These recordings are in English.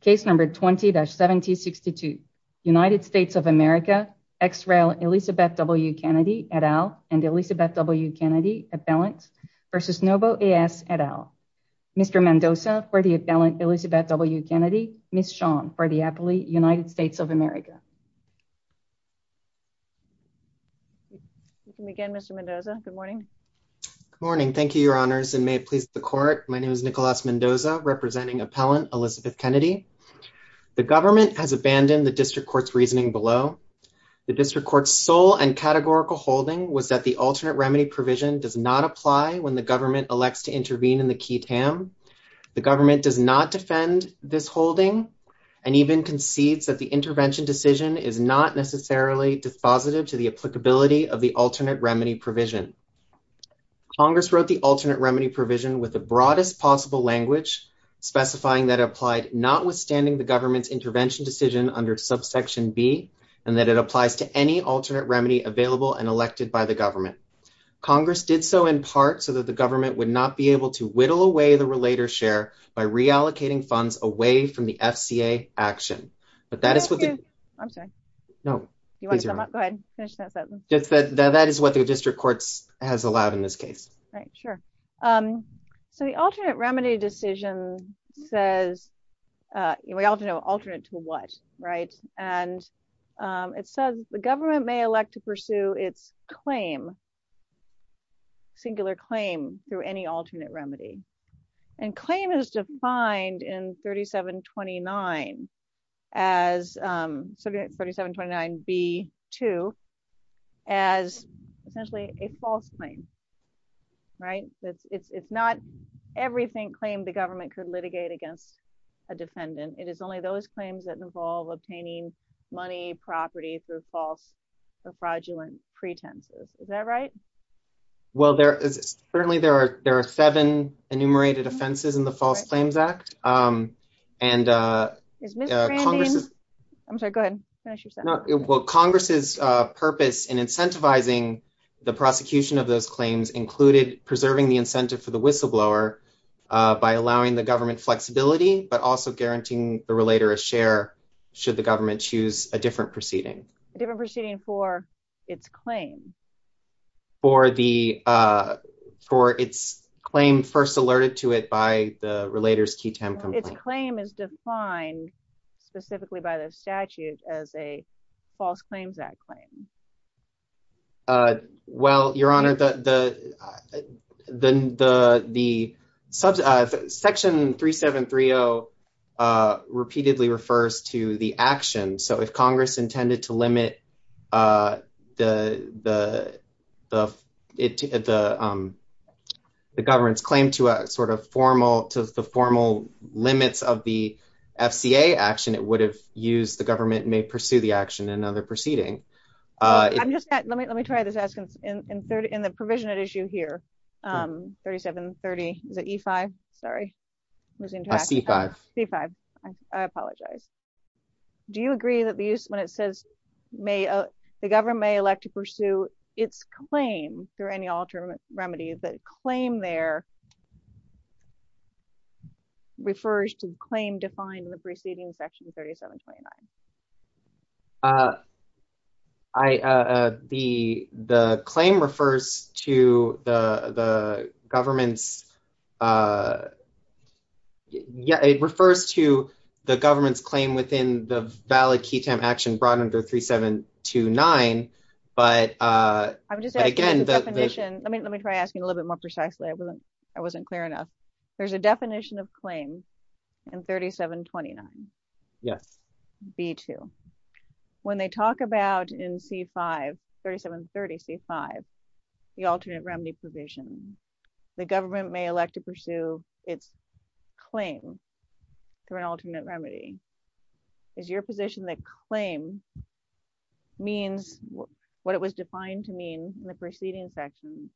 case number 20-7062 United States of America ex rel Elizabeth W. Kennedy et al and Elizabeth W. Kennedy appellant versus Novo A.S. et al. Mr. Mendoza for the appellant Elizabeth W. Kennedy Miss Sean for the appellate United States of America. You can begin Mr. Mendoza. Good morning. Good morning. Thank you your honors and may it please the court. My name is Nicholas Mendoza representing appellant Elizabeth Kennedy. The government has abandoned the district court's reasoning below. The district court's sole and categorical holding was that the alternate remedy provision does not apply when the government elects to intervene in the key TAM. The government does not defend this holding and even concedes that the intervention decision is not necessarily dispositive to the applicability of the alternate remedy provision with the broadest possible language specifying that applied notwithstanding the government's intervention decision under subsection b and that it applies to any alternate remedy available and elected by the government. Congress did so in part so that the government would not be able to whittle away the relator share by reallocating funds away from the FCA action but that is what the I'm sorry no you want to come up go ahead finish that sentence that is what the district courts has allowed in this case right sure so the alternate remedy decision says we all know alternate to what right and it says the government may elect to pursue its claim singular claim through any alternate remedy and claim is defined in 3729 as 3729 b 2 as essentially a false claim right it's it's it's not everything claimed the government could litigate against a defendant it is only those claims that involve obtaining money property through false or fraudulent pretenses is that right well there is certainly there are there are seven enumerated offenses in the false claims act um and uh is mr i'm sorry go ahead well congress's uh purpose in incentivizing the prosecution of those claims included preserving the incentive for the whistleblower by allowing the government flexibility but also guaranteeing the relator a share should the government choose a different proceeding a different proceeding for its claim for the uh for its claim first alerted to it by the false claims that claim uh well your honor the the the the sub uh section 3730 uh repeatedly refers to the action so if congress intended to limit uh the the the it the um the government's claim to a sort of formal to the formal limits of the fca action it would have used the government may pursue the action in other proceeding uh i'm just let me let me try this askance in 30 in the provision at issue here um 3730 is it e5 sorry losing c5 c5 i apologize do you agree that the use when it says may uh the government may elect to pursue its claim through any alternate remedy the claim there uh refers to the claim defined in the preceding section 3729 uh i uh the the claim refers to the the government's uh yeah it refers to the government's claim within the valid key time action brought under 3729 but uh i'm just again the definition let me let me try asking a little bit more precisely i wasn't clear enough there's a definition of claim in 3729 yes b2 when they talk about in c5 3730 c5 the alternate remedy provision the government may elect to pursue its claim through an alternate remedy is your position that claim means what it was defined to mean in the preceding section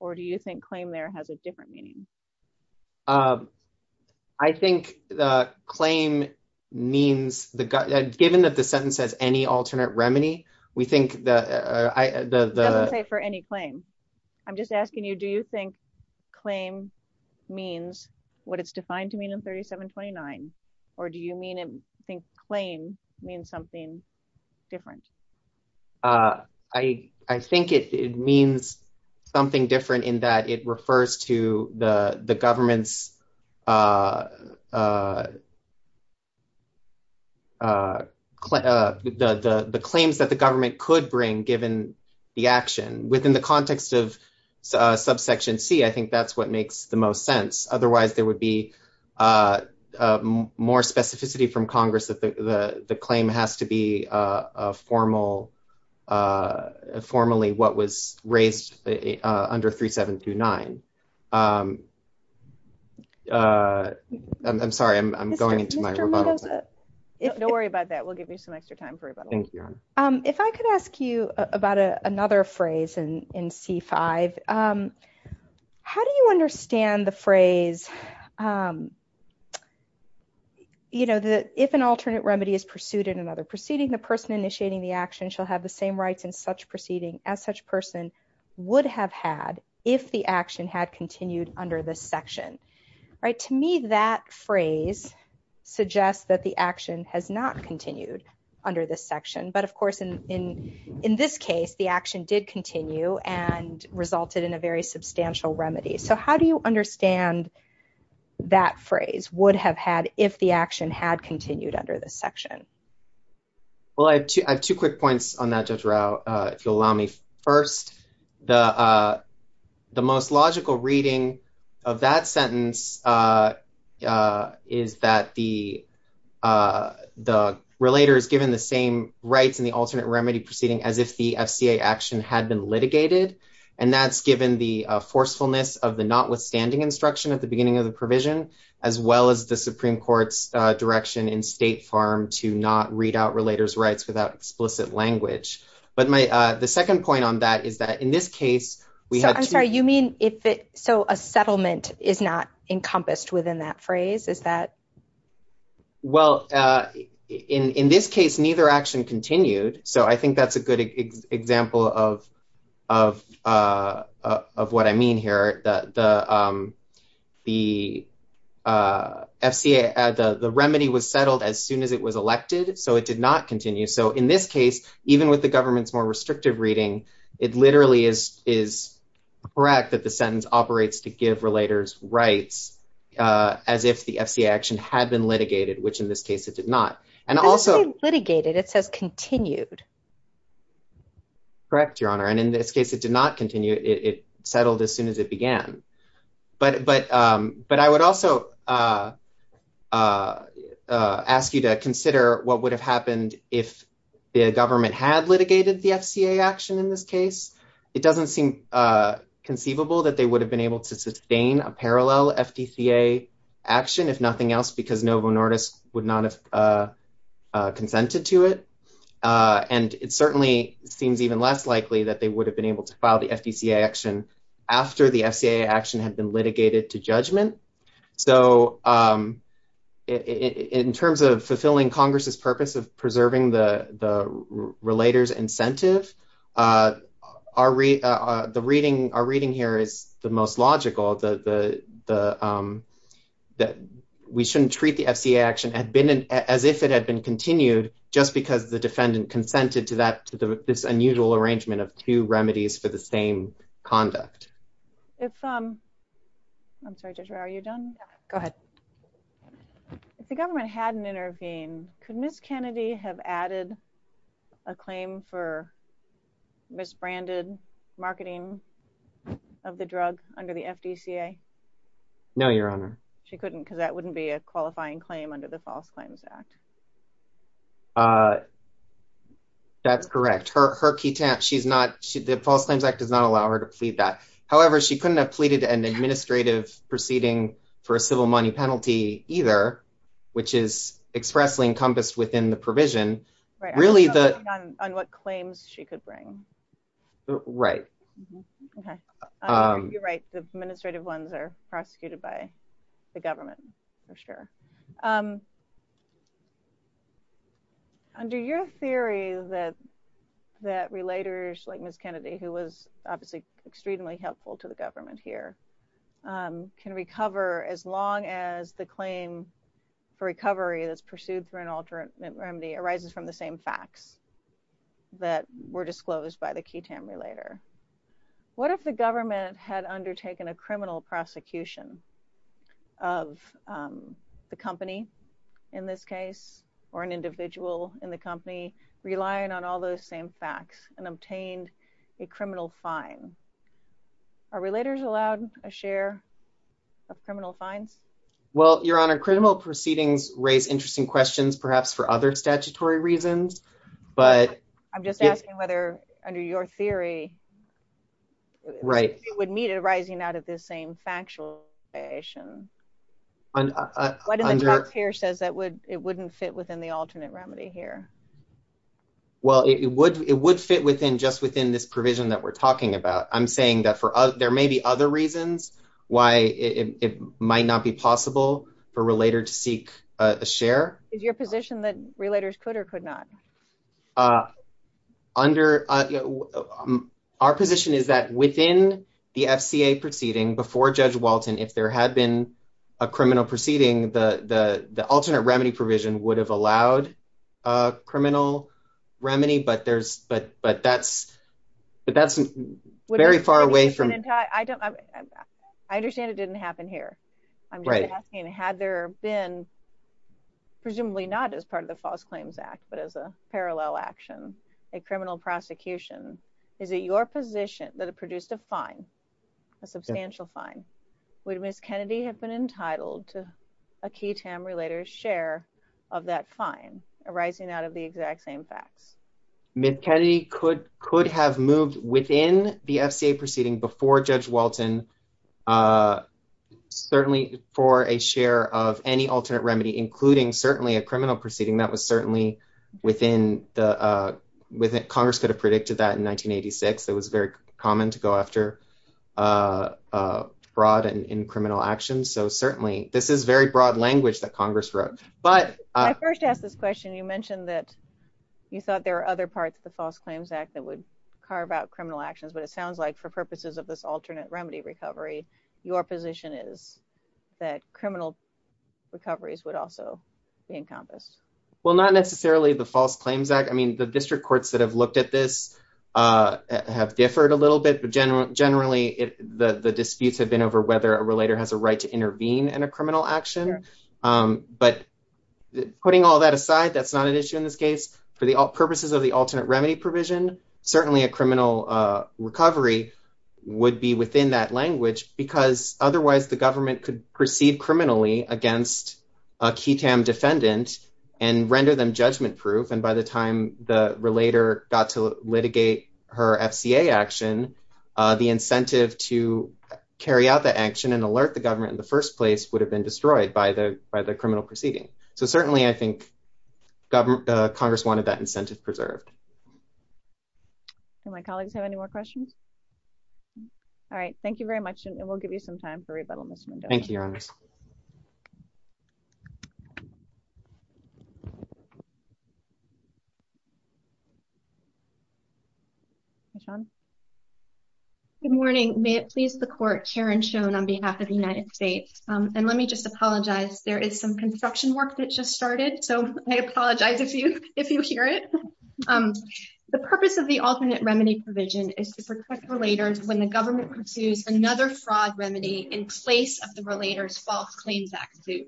or do you think claim there has a different meaning um i think the claim means the given that the sentence has any alternate remedy we think that i the the say for any claim i'm just asking you do you think claim means what it's defined to mean in 3729 or do you mean and think claim means something different uh i i think it means something different in that it refers to the the government's uh uh uh the the the claims that the government could bring given the action within the context of subsection c i think that's what makes the most sense otherwise there would be uh more specificity from congress that the the the claim has to be uh a formal uh formally what raised uh under 3729 um uh i'm sorry i'm going into my rebuttal don't worry about that we'll give you some extra time for rebuttal thank you um if i could ask you about a another phrase in in c5 um how do you understand the phrase um you know the if an alternate remedy is pursued in another proceeding the person initiating the action shall have the same rights in such proceeding as such person would have had if the action had continued under this section right to me that phrase suggests that the action has not continued under this section but of course in in in this case the action did continue and resulted in a very substantial remedy so how do you understand that phrase would have had if the action had continued under this section well i have two i have two quick points on that judge row uh if you'll allow me first the uh the most logical reading of that sentence uh uh is that the uh the relator is given the same rights in the alternate remedy proceeding as if the fca action had been litigated and that's given the forcefulness of the notwithstanding instruction at the beginning of the provision as well as the supreme court's uh direction in state farm to not read out relators rights without explicit language but my uh the second point on that is that in this case we had i'm sorry you mean if it so a settlement is not encompassed within that phrase is that well uh in in this case neither action continued so i think that's a good example of of uh of what i mean here that the um the uh fca the the remedy was settled as soon as it was elected so it did not continue so in this case even with the government's more restrictive reading it literally is is correct that the sentence operates to give relators rights uh as if the fca action had been litigated which in this case it did not and also litigated it says continued correct your honor and in this case it did not continue it settled as soon as it began but but um but i would also uh uh uh ask you to consider what would have happened if the government had litigated the fca action in this case it doesn't seem uh conceivable that they would have been able to sustain a parallel fdca action if nothing else because novinortis would not have uh uh it certainly seems even less likely that they would have been able to file the fdca action after the fca action had been litigated to judgment so um in terms of fulfilling congress's purpose of preserving the the relators incentive uh our the reading our reading here is the most logical the the um that we shouldn't treat the fca action had been as if it had been continued just because the defendant consented to that to this unusual arrangement of two remedies for the same conduct if um i'm sorry joshua are you done go ahead if the government hadn't intervened could miss kennedy have added a claim for misbranded marketing of the drug under the fdca no your honor she couldn't because that wouldn't be a qualifying claim under the false claims act uh that's correct her her key temp she's not she the false claims act does not allow her to plead that however she couldn't have pleaded an administrative proceeding for a civil money penalty either which is expressly encompassed within the provision really the on what claims she could bring right okay um you're right the administrative ones are prosecuted by the government for sure um under your theory that that relators like miss kennedy who was obviously extremely helpful to the government here um can recover as long as the claim for recovery that's pursued through an alternate remedy arises from the same facts that were disclosed by the ketamine later what if the government had undertaken a criminal prosecution of um the company in this case or an individual in the company relying on all those same facts and obtained a criminal fine our relators allowed a share of criminal fines well your honor criminal proceedings raise interesting questions perhaps for other statutory reasons but i'm just asking whether under your theory right it would meet it arising out of this same factual and under here says that would it wouldn't fit within the alternate remedy here well it would it would fit within just within this provision that we're talking about i'm saying that for other there may be other reasons why it might not be possible for relator to seek a share is position that relators could or could not uh under uh our position is that within the fca proceeding before judge walton if there had been a criminal proceeding the the alternate remedy provision would have allowed a criminal remedy but there's but but that's but that's very far away from i don't i understand it didn't happen here i'm just asking had there been presumably not as part of the false claims act but as a parallel action a criminal prosecution is it your position that produced a fine a substantial fine would miss kennedy have been entitled to a key tam relator's share of that fine arising out of the exact same facts miss kennedy could could have moved within the fca proceeding before judge walton uh for a share of any alternate remedy including certainly a criminal proceeding that was certainly within the uh with it congress could have predicted that in 1986 it was very common to go after uh broad and in criminal actions so certainly this is very broad language that congress wrote but i first asked this question you mentioned that you thought there were other parts of the false claims act that would carve out criminal actions but it sounds like for purposes of this alternate remedy recovery your position is that criminal recoveries would also be encompassed well not necessarily the false claims act i mean the district courts that have looked at this uh have differed a little bit but generally generally it the the disputes have been over whether a relator has a right to intervene in a criminal action um but putting all that aside that's not an issue in this case for the purposes of the alternate remedy provision certainly a would be within that language because otherwise the government could proceed criminally against a ketam defendant and render them judgment proof and by the time the relator got to litigate her fca action uh the incentive to carry out the action and alert the government in the first place would have been destroyed by the by the criminal proceeding so certainly i think government congress wanted that incentive preserved can my colleagues have any more questions all right thank you very much and we'll give you some time for rebuttal thank you good morning may it please the court karen shown on behalf of the united states and let me just apologize there is some construction work that just started so i apologize if you if you hear it um the purpose of the alternate remedy provision is to protect when the government pursues another fraud remedy in place of the relators false claims act suit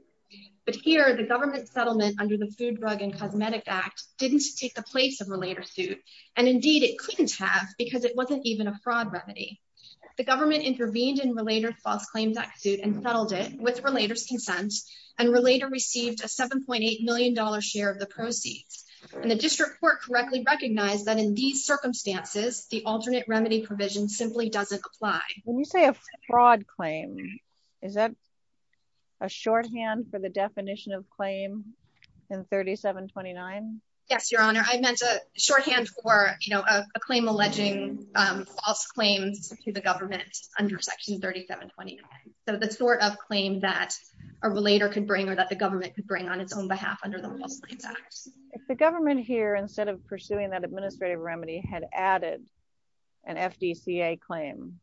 but here the government settlement under the food drug and cosmetic act didn't take the place of relator suit and indeed it couldn't have because it wasn't even a fraud remedy the government intervened in relator false claims act suit and settled it with relators consent and relator received a 7.8 million dollar share of the proceeds and the district court correctly recognized that these circumstances the alternate remedy provision simply doesn't apply when you say a fraud claim is that a shorthand for the definition of claim in 37 29 yes your honor i meant a shorthand for you know a claim alleging um false claims to the government under section 37 29 so the sort of claim that a relator could bring or that the government could bring on its own behalf under if the government here instead of pursuing that administrative remedy had added an fdca claim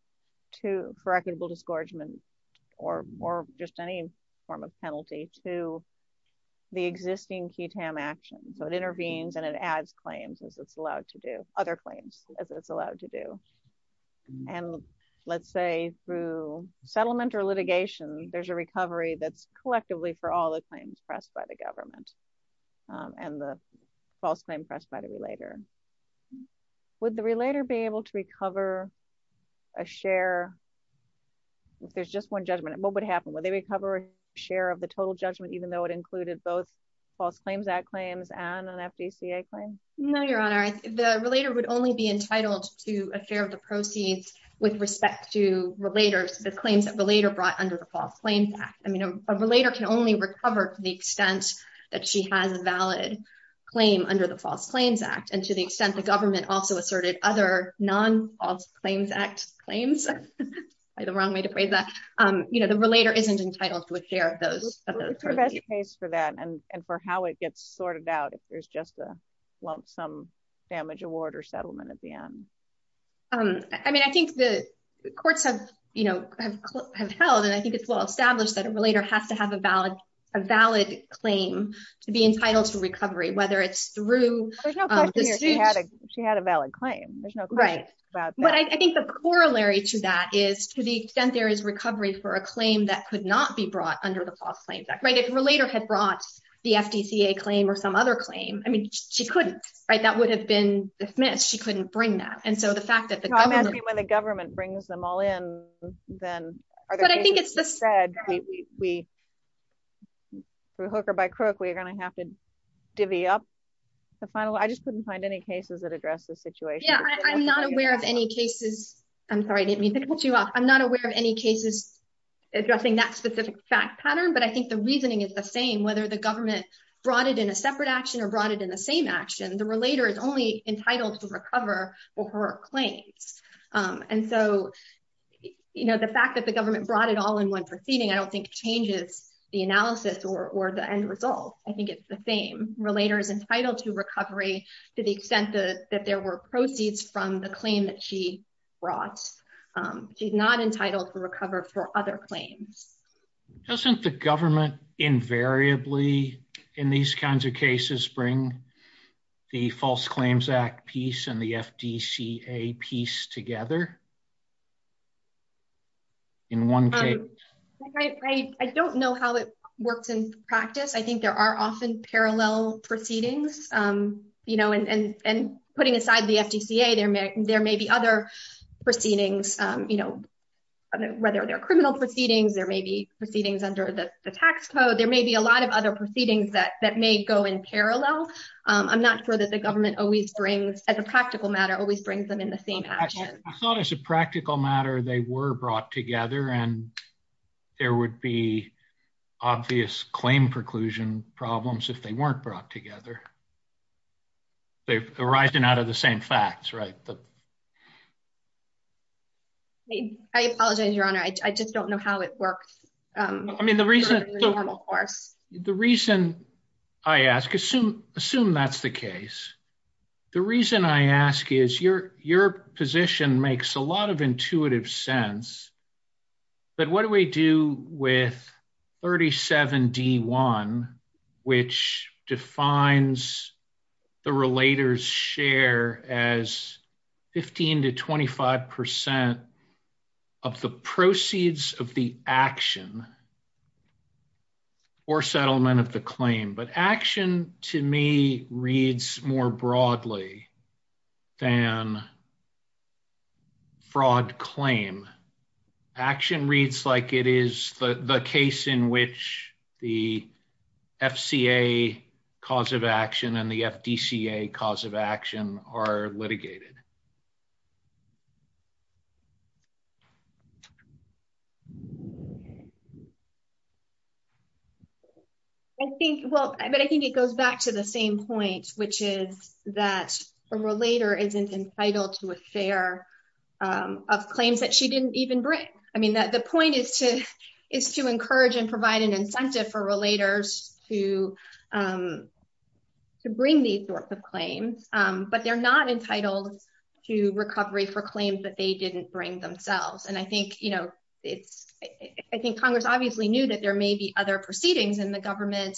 to for equitable disgorgement or or just any form of penalty to the existing ketam action so it intervenes and it adds claims as it's allowed to do other claims as it's allowed to do and let's say through settlement or litigation there's a recovery that's collectively for all the claims pressed by the government um and the false claim pressed by the relator would the relator be able to recover a share if there's just one judgment what would happen would they recover a share of the total judgment even though it included both false claims that claims and an fdca claim no your honor the relator would only be entitled to a fair of the proceeds with respect to relators the claims that the later brought under the false claims act i mean a relator can only recover to the extent that she has a valid claim under the false claims act and to the extent the government also asserted other non-false claims act claims by the wrong way to phrase that um you know the relator isn't entitled to a share of those the best case for that and and for how it gets sorted out if there's just a lump sum damage award or settlement at the end um i mean i think the courts have you know have held and i think it's well established that a relator has to have a valid a valid claim to be entitled to recovery whether it's through there's no question she had a she had a valid claim there's no right but i think the corollary to that is to the extent there is recovery for a claim that could not be brought under the false claims act right if a relator had brought the fdca claim or some other claim i mean she couldn't right that would have been dismissed she couldn't bring that and so the fact that the government when the government brings them all in then but i think it's the spread we through hooker by crook we're going to have to divvy up the final i just couldn't find any cases that address this situation yeah i'm not aware of any cases i'm sorry i didn't mean to put you off i'm not aware of any cases addressing that specific fact pattern but i think the reasoning is the same whether the government brought it in a separate action or brought it in the same action the relator is only entitled to recover for her claims and so you know the fact that the government brought it all in one proceeding i don't think changes the analysis or the end result i think it's the same relator is entitled to recovery to the extent that there were proceeds from the claim that she brought she's not entitled to recover for other claims doesn't the government invariably in these kinds of cases bring the false claims act piece and the fdca piece together in one case i don't know how it works in practice i think there are often parallel proceedings um you know and and putting aside the fdca there may there may be other proceedings um you know whether they're criminal proceedings there may be proceedings under the i'm not sure that the government always brings as a practical matter always brings them in the same action i thought as a practical matter they were brought together and there would be obvious claim preclusion problems if they weren't brought together they've arisen out of the same facts right but i apologize your honor i just don't know how it works um i mean the reason of course the reason i ask assume assume that's the case the reason i ask is your your position makes a lot of intuitive sense but what do we do with 37 d1 which defines the relators share as 15 to 25 percent of the proceeds of the action or settlement of the claim but action to me reads more broadly than fraud claim action reads like it is the the case in which the fca cause of action and the fdca cause of action are litigated i think well but i think it goes back to the same point which is that a relator isn't entitled to a fair um of claims that she didn't even bring i mean that the point is to is to encourage and um to bring these sorts of claims um but they're not entitled to recovery for claims that they didn't bring themselves and i think you know it's i think congress obviously knew that there may be other proceedings and the government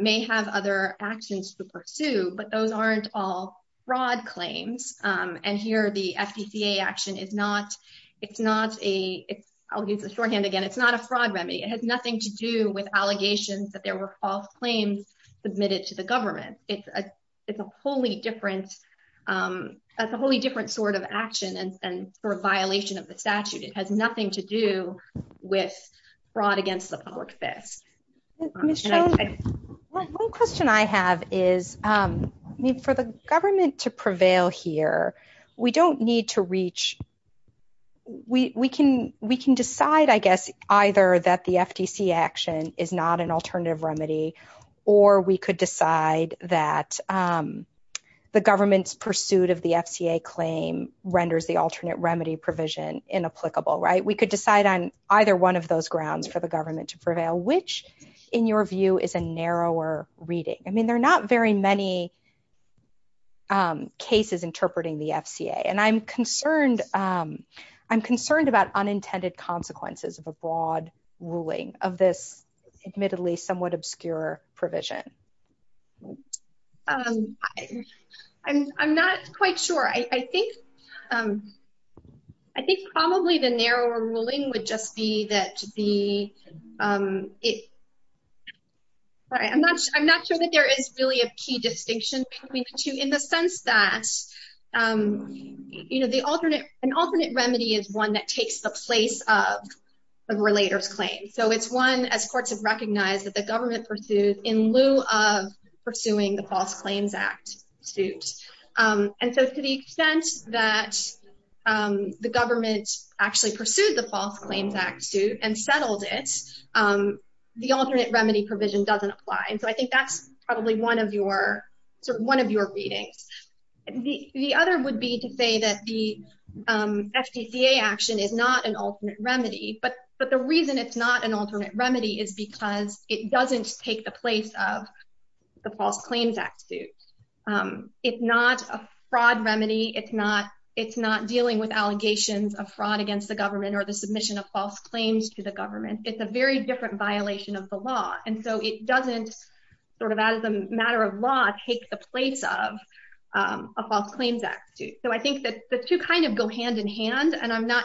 may have other actions to pursue but those aren't all fraud claims um and here the fdca action is not it's not a it's i'll use the shorthand again it's nothing to do with allegations that there were false claims submitted to the government it's a it's a wholly different um that's a wholly different sort of action and for a violation of the statute it has nothing to do with fraud against the public this one question i have is um i mean for the government to prevail here we don't need to reach we we can we can decide i either that the fdc action is not an alternative remedy or we could decide that um the government's pursuit of the fca claim renders the alternate remedy provision inapplicable right we could decide on either one of those grounds for the government to prevail which in your view is a narrower reading i mean there are not very many um cases interpreting the fca and i'm concerned um concerned about unintended consequences of a broad ruling of this admittedly somewhat obscure provision um i'm i'm not quite sure i i think um i think probably the narrower ruling would just be that the um it all right i'm not i'm not sure that there is really a key distinction between in the sense that um you know the alternate an alternate remedy is one that takes the place of the relator's claim so it's one as courts have recognized that the government pursued in lieu of pursuing the false claims act suit um and so to the extent that um the government actually pursued the false claims act suit and settled it um the alternate remedy provision doesn't apply and so i think that's probably one of your sort of one of your readings the other would be to say that the um fdca action is not an alternate remedy but but the reason it's not an alternate remedy is because it doesn't take the place of the false claims act suit um it's not a fraud remedy it's not it's not dealing with allegations of fraud against the government or the submission of false claims to the government it's a very different violation of the law and so it doesn't sort of as a matter of law take the place of um a false claims act suit so i think that the two kind of go hand in hand and i'm not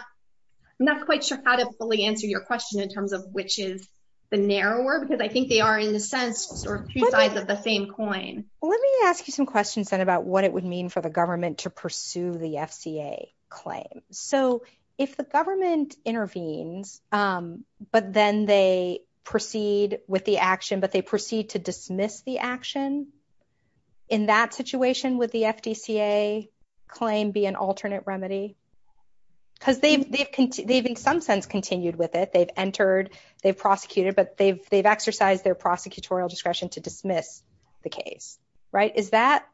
i'm not quite sure how to fully answer your question in terms of which is the narrower because i think they are in the sense or two sides of the same coin let me ask you some questions then about what it would mean for the government to pursue the fca claim so if the government intervenes um but then they proceed with the action but they proceed to dismiss the action in that situation would the fdca claim be an alternate remedy because they've they've they've in some sense continued with it they've entered they've prosecuted but they've they've exercised their prosecutorial discretion to dismiss the case right is that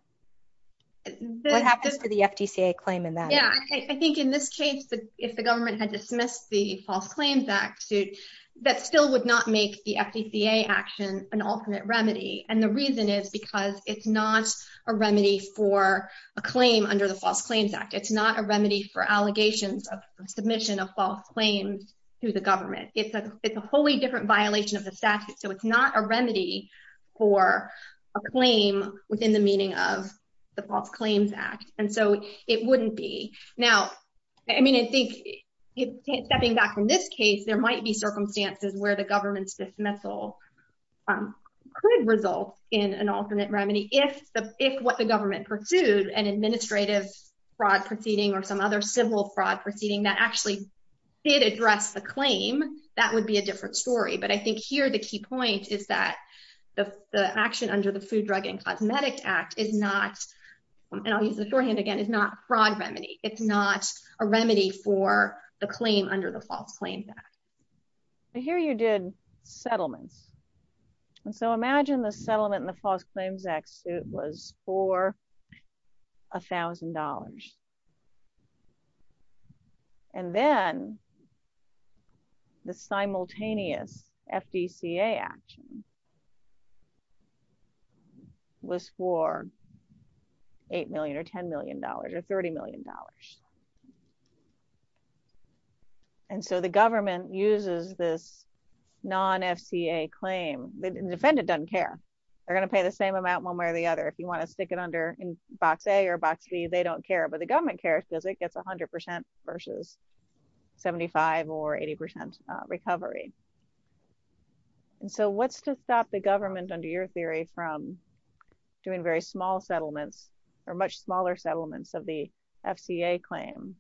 what happens to the fdca claim in that yeah i think in this case but if the government had dismissed the false claims act suit that still would not make the fdca action an alternate remedy and the reason is because it's not a remedy for a claim under the false claims act it's not a remedy for allegations of submission of false claims to the government it's a it's a wholly different violation of the statute so it's not a remedy for a claim within the meaning of the false claims act and so it wouldn't be now i mean i think stepping back from this case there might be circumstances where the government's dismissal um could result in an alternate remedy if the if what the government pursued an administrative fraud proceeding or some other civil fraud proceeding that actually did address the claim that would be a different story but i think here the key point is that the the action under the food drug and cosmetic act is not and i'll use the shorthand again it's not a fraud remedy it's not a remedy for the claim under the false claims act here you did settlements and so imagine the settlement in the false claims act suit was for a thousand dollars and then the simultaneous fdca action was for eight million or ten million dollars or thirty million dollars and so the government uses this non-fca claim the defendant doesn't care they're going to pay the same amount one way or the other if you want to stick it under in box a or box b they don't care but the government cares because it gets 100 versus 75 or 80 percent recovery and so what's to stop the government under your theory from doing very small settlements or much smaller settlements of the fca claim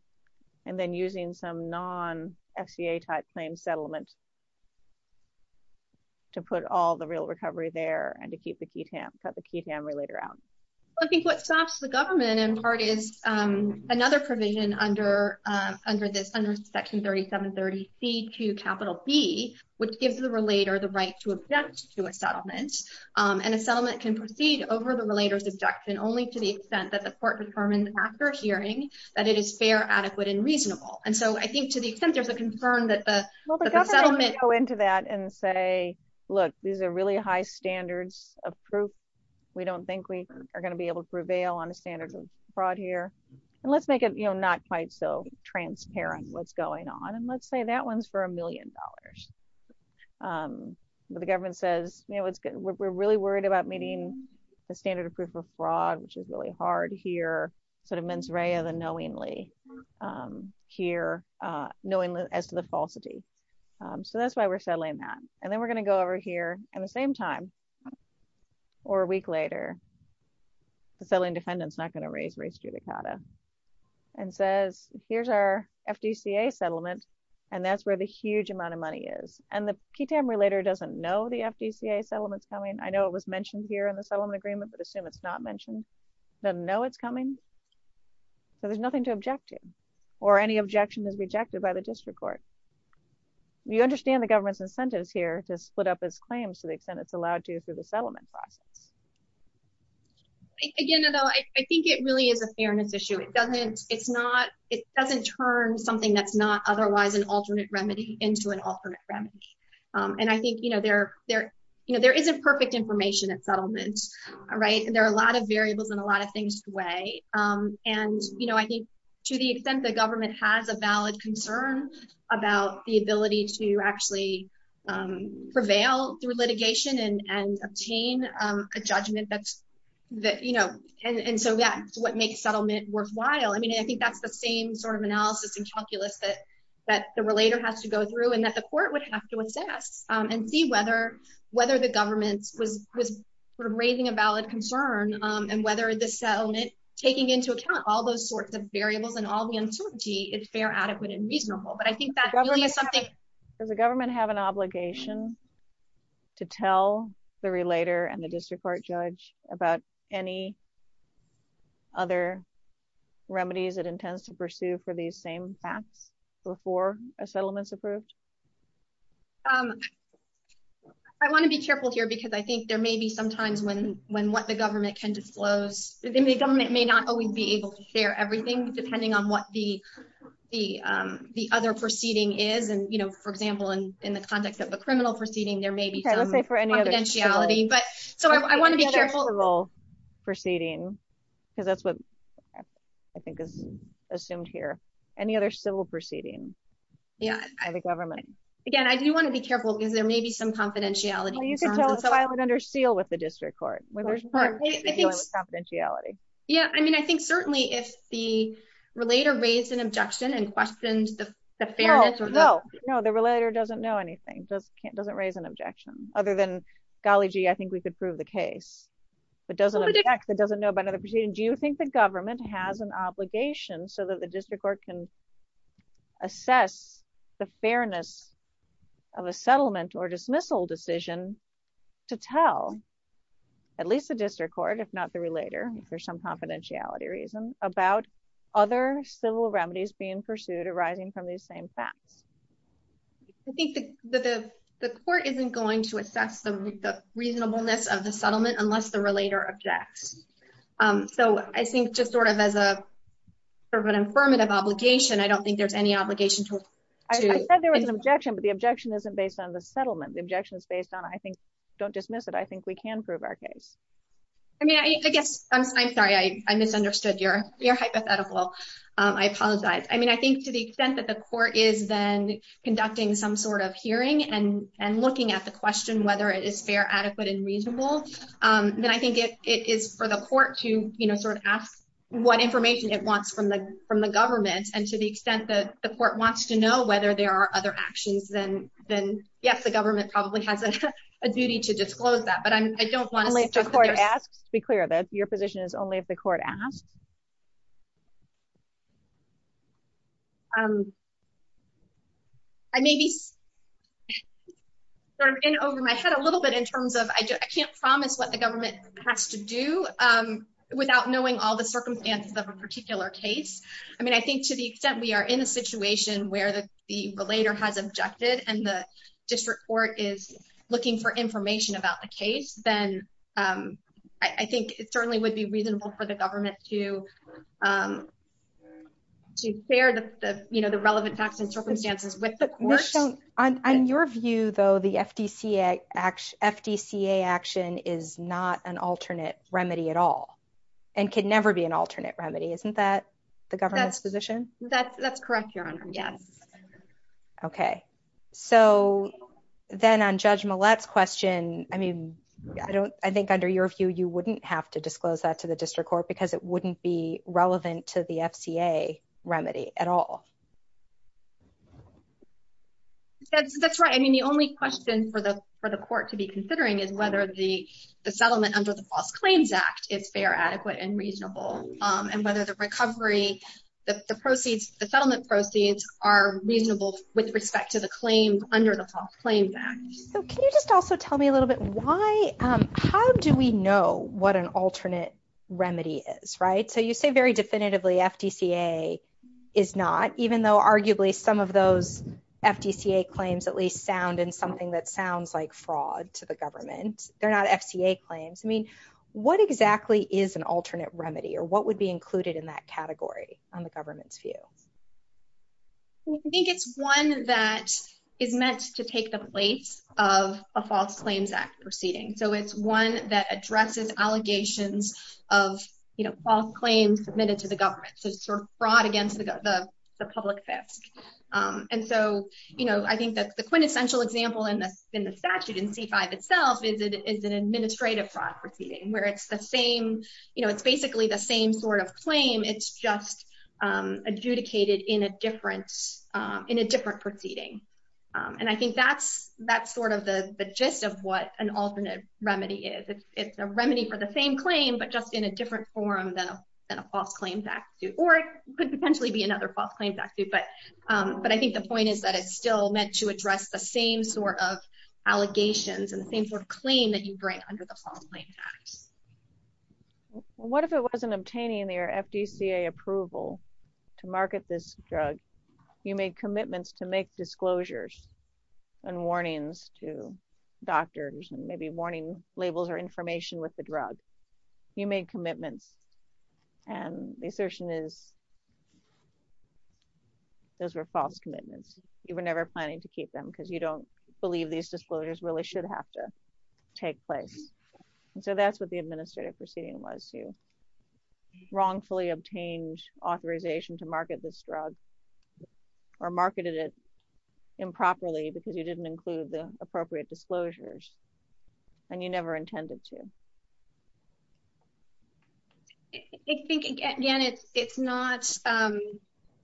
and then using some non-fca type claim settlement to put all the real recovery there and to keep the key tamp cut the key tamper later out i think what stops the government in part is um another provision under um under this under section 37 30 c to capital b which gives the relator the right to object to a settlement and a settlement can proceed over the relator's objection only to the extent that the court determines after hearing that it is fair adequate and reasonable and so i think to the extent there's a concern that the settlement go into that and say look these are really high standards of proof we don't think we are going to be able to prevail on the standards of fraud here and let's make it you know not quite so transparent what's going on and let's say that one's for a million dollars um but the government says you know it's good we're really worried about meeting the standard of proof of fraud which is really hard here sort of mens rea the knowingly um here uh knowingly as to the falsity so that's why we're settling that and we're going to go over here at the same time or a week later the settling defendant's not going to raise race judicata and says here's our fdca settlement and that's where the huge amount of money is and the key tamper later doesn't know the fdca settlement's coming i know it was mentioned here in the settlement agreement but assume it's not mentioned doesn't know it's coming so there's nothing to object to or any objection is rejected by the district court you understand the government's incentives here to split up its claims to the extent it's allowed to through the settlement process again though i think it really is a fairness issue it doesn't it's not it doesn't turn something that's not otherwise an alternate remedy into an alternate remedy um and i think you know there there you know there isn't perfect information at settlements right there are a lot of variables and a lot of things to weigh um and you know i think to the government has a valid concern about the ability to actually prevail through litigation and and obtain um a judgment that's that you know and and so that's what makes settlement worthwhile i mean i think that's the same sort of analysis and calculus that that the relator has to go through and that the court would have to assess um and see whether whether the government was was sort of raising a valid concern um and whether the settlement taking into account all those sorts of variables and all the uncertainty is fair adequate and reasonable but i think that is something does the government have an obligation to tell the relator and the district court judge about any other remedies it intends to pursue for these same facts before a settlement's approved um i want to be careful here because i think there may be sometimes when when what the the um the other proceeding is and you know for example in in the context of a criminal proceeding there may be some confidentiality but so i want to be careful proceeding because that's what i think is assumed here any other civil proceeding yeah by the government again i do want to be careful because there may be some confidentiality you could tell us i would under seal with the relator raised an objection and questioned the fairness no no no the relator doesn't know anything just can't doesn't raise an objection other than golly gee i think we could prove the case but doesn't object that doesn't know about another proceeding do you think the government has an obligation so that the district court can assess the fairness of a settlement or dismissal decision to tell at least the district court if not the relator if there's some confidentiality about other civil remedies being pursued arising from these same facts i think the the the court isn't going to assess the reasonableness of the settlement unless the relator objects um so i think just sort of as a sort of an affirmative obligation i don't think there's any obligation to i said there was an objection but the objection isn't based on the settlement the objection is based on i think don't dismiss it i think we can prove our case i mean i guess i'm sorry i misunderstood your your hypothetical um i apologize i mean i think to the extent that the court is then conducting some sort of hearing and and looking at the question whether it is fair adequate and reasonable um then i think it it is for the court to you know sort of ask what information it wants from the from the government and to the extent that the court wants to know whether there are other actions then then yes the government probably has a duty to disclose that i don't want to ask to be clear that your position is only if the court asks um i may be sort of in over my head a little bit in terms of i can't promise what the government has to do um without knowing all the circumstances of a particular case i mean i think to the extent we are in a situation where the the relator has objected and the district court is looking for information about the case then um i think it certainly would be reasonable for the government to um to share the you know the relevant facts and circumstances with the question on your view though the fdca action fdca action is not an alternate remedy at all and could never be an alternate remedy isn't that the government's position that's that's so then on judge mullet's question i mean i don't i think under your view you wouldn't have to disclose that to the district court because it wouldn't be relevant to the fca remedy at all that's that's right i mean the only question for the for the court to be considering is whether the the settlement under the false claims act is fair adequate and reasonable um and whether the under the false claim back so can you just also tell me a little bit why um how do we know what an alternate remedy is right so you say very definitively fdca is not even though arguably some of those fdca claims at least sound and something that sounds like fraud to the government they're not fca claims i mean what exactly is an alternate remedy or what would be included in that category on the government's view i think it's one that is meant to take the place of a false claims act proceeding so it's one that addresses allegations of you know false claims submitted to the government so sort of fraud against the the public fisc um and so you know i think that the quintessential example in the in the statute in c5 itself is it is an it's just um adjudicated in a different um in a different proceeding um and i think that's that's sort of the the gist of what an alternate remedy is it's a remedy for the same claim but just in a different form than a false claims act or it could potentially be another false claims act but um but i think the point is that it's still meant to address the same sort of allegations and the same sort of claim that you bring under the false claims act well what if it wasn't obtaining their fdca approval to market this drug you made commitments to make disclosures and warnings to doctors and maybe warning labels or information with the drug you made commitments and the assertion is those were false commitments you were never planning to keep them because you don't these disclosures really should have to take place and so that's what the administrative proceeding was you wrongfully obtained authorization to market this drug or marketed it improperly because you didn't include the appropriate disclosures and you never intended to i think again it's it's not um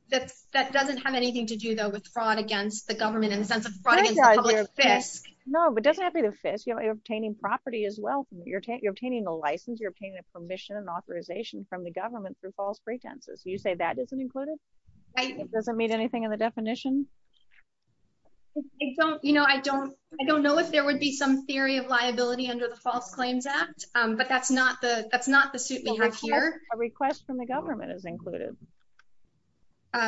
that that doesn't have anything to do though with in the sense of no but doesn't have to be the fist you're obtaining property as well you're you're obtaining a license you're obtaining a permission and authorization from the government through false pretenses you say that isn't included it doesn't meet anything in the definition i don't you know i don't i don't know if there would be some theory of liability under the false claims act um but that's not the that's not the suit we have here a request from the i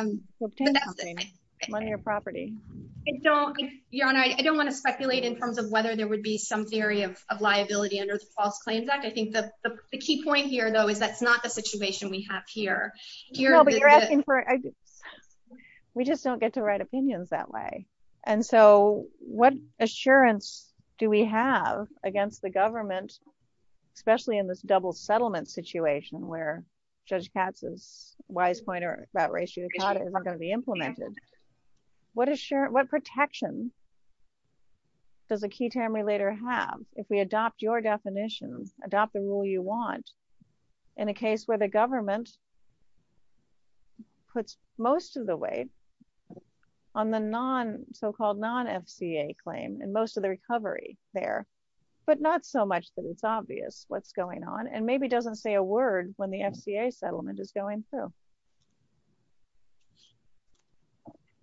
don't your honor i don't want to speculate in terms of whether there would be some theory of of liability under the false claims act i think the the key point here though is that's not the situation we have here here but you're asking for we just don't get to write opinions that way and so what assurance do we have against the government especially in this double settlement situation where judge katz's wise pointer about ratio is not going to be implemented what assurance what protection does a key term we later have if we adopt your definition adopt the rule you want in a case where the government puts most of the weight on the non so-called non-fca claim and most of the recovery there but not so much that it's obvious what's going on and maybe doesn't say a word when the fca settlement is going through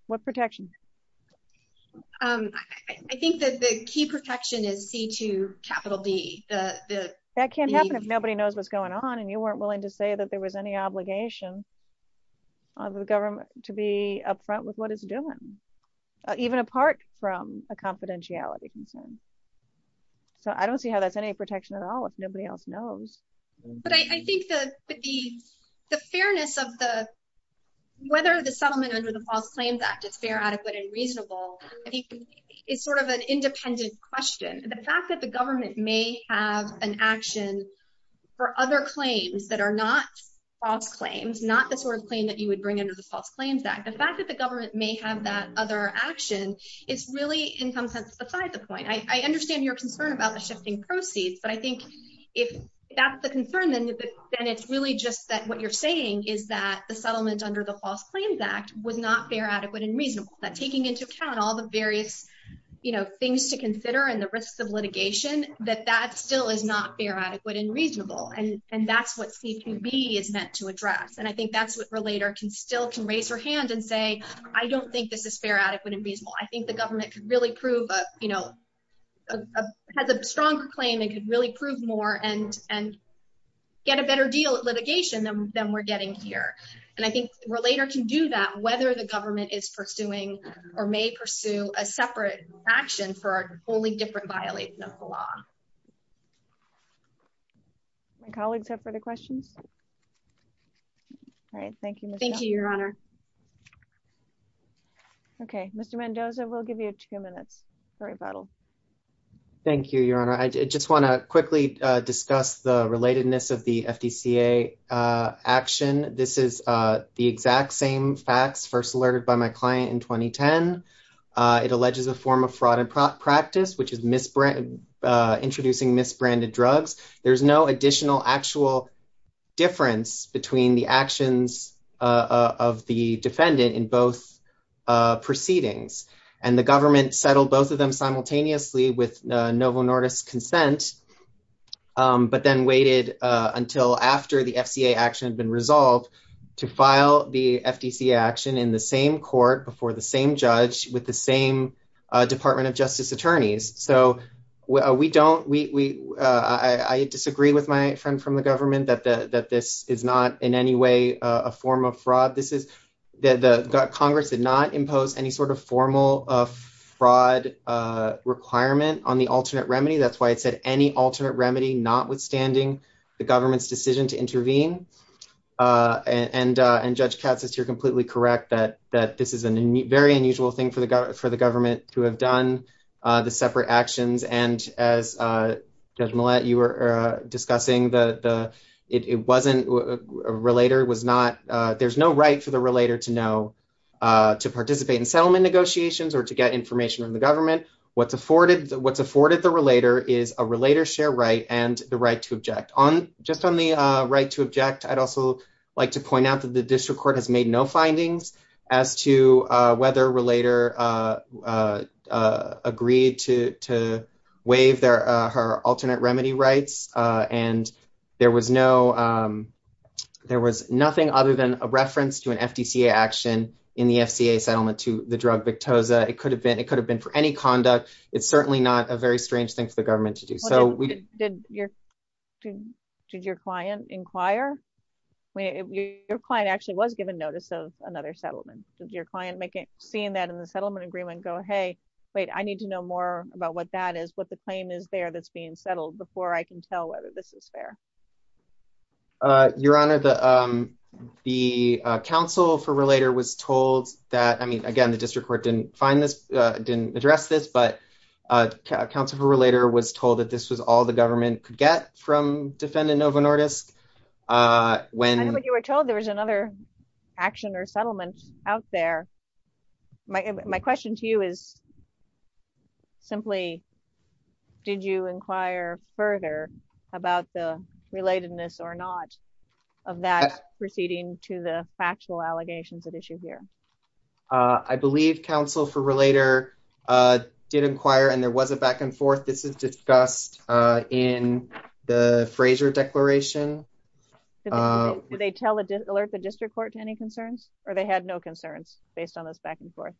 what protection um i think that the key protection is c2 capital d the that can't happen if nobody knows what's going on and you weren't willing to say that there was any obligation of the government to be up front with what it's doing even apart from a confidentiality concern so i don't see how that's any protection at all if nobody else knows but i i think the the the fairness of the whether the settlement under the false claims act it's fair adequate and reasonable i think it's sort of an independent question the fact that the government may have an action for other claims that are not false claims not the sort of claim that you would bring under the false claims act the fact that the government may have that other action is really in some sense beside the point i i understand your concern about the shifting proceeds but i think if that's the concern then then it's really just that what you're saying is that the settlement under the false claims act was not fair adequate and reasonable that taking into account all the various you know things to consider and the risks of litigation that that still is not fair adequate and reasonable and and that's what cpb is meant to address and i think that's what relator can still can raise her hand and say i don't think this is fair adequate and a has a stronger claim it could really prove more and and get a better deal at litigation than we're getting here and i think relator can do that whether the government is pursuing or may pursue a separate action for a wholly different violation of the law my colleagues have further questions all right thank you thank you your honor okay mr mendoza we'll give you a few minutes for rebuttal thank you your honor i just want to quickly uh discuss the relatedness of the fdca uh action this is uh the exact same facts first alerted by my client in 2010 uh it alleges a form of fraud and practice which is misbrand introducing misbranded drugs there's no additional actual difference between the actions uh of the defendant in both uh proceedings and the government settled both of them simultaneously with uh novel nordis consent um but then waited uh until after the fca action had been resolved to file the fdc action in the same court before the same judge with the same uh department of justice attorneys so we don't we we uh i i disagree with my friend from the government that the that this is not in any way uh a form of fraud this is that the congress did not impose any sort of formal uh fraud uh requirement on the alternate remedy that's why it said any alternate remedy notwithstanding the government's decision to intervene uh and uh and judge katz says you're completely correct that that this is a very unusual thing for the government for the government to have done uh the separate actions and as uh you were uh discussing the the it wasn't a relator was not uh there's no right for the relator to know uh to participate in settlement negotiations or to get information from the government what's afforded what's afforded the relator is a relator share right and the right to object on just on the uh right to object i'd also like to point out that the district court has made no findings as to uh whether relator uh uh agreed to to waive their uh her alternate remedy rights uh and there was no um there was nothing other than a reference to an fdca action in the fca settlement to the drug victosa it could have been it could have been for any conduct it's certainly not a very strange thing for the your client actually was given notice of another settlement your client making seeing that in the settlement agreement go hey wait i need to know more about what that is what the claim is there that's being settled before i can tell whether this is fair uh your honor the um the council for relator was told that i mean again the district court didn't find this uh didn't address this but uh council for relator was told that this was all the government could get from defendant nova nordisk uh when you were told there was another action or settlement out there my question to you is simply did you inquire further about the relatedness or not of that proceeding to the factual allegations at issue here uh i believe council for relator uh did inquire and there was a back and forth this is discussed uh in the fraser declaration did they tell alert the district court to any concerns or they had no concerns based on this back and forth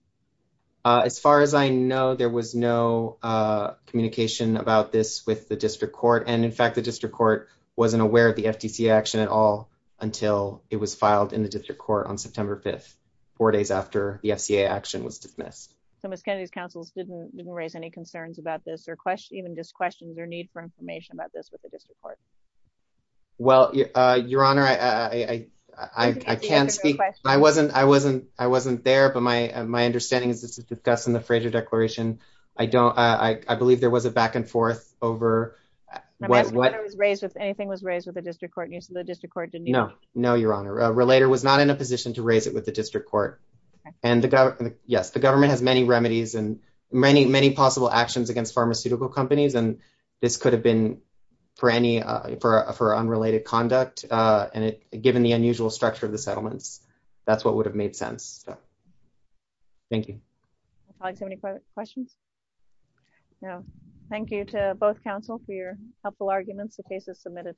uh as far as i know there was no uh communication about this with the district court and in fact the district court wasn't aware of the fdca action at all until it was filed in the district court on september 5th four days after the fca action was dismissed so miss kennedy's councils didn't didn't raise any concerns about this or question even just questions or need for information about this with the district court well uh your honor i i i can't speak i wasn't i wasn't i wasn't there but my my understanding is to discuss in the fraser declaration i don't i i believe there was a back and forth over what was raised if anything was raised with the district court news so the district court didn't know no your honor relator was not in a position to raise it with the district court and the government yes the government has many remedies and many many possible actions against pharmaceutical companies and this could have been for any uh for for unrelated conduct uh and it given the unusual structure of the settlements that's what would have made sense thank you i think so many questions yeah thank you to both council for your helpful arguments the case is submitted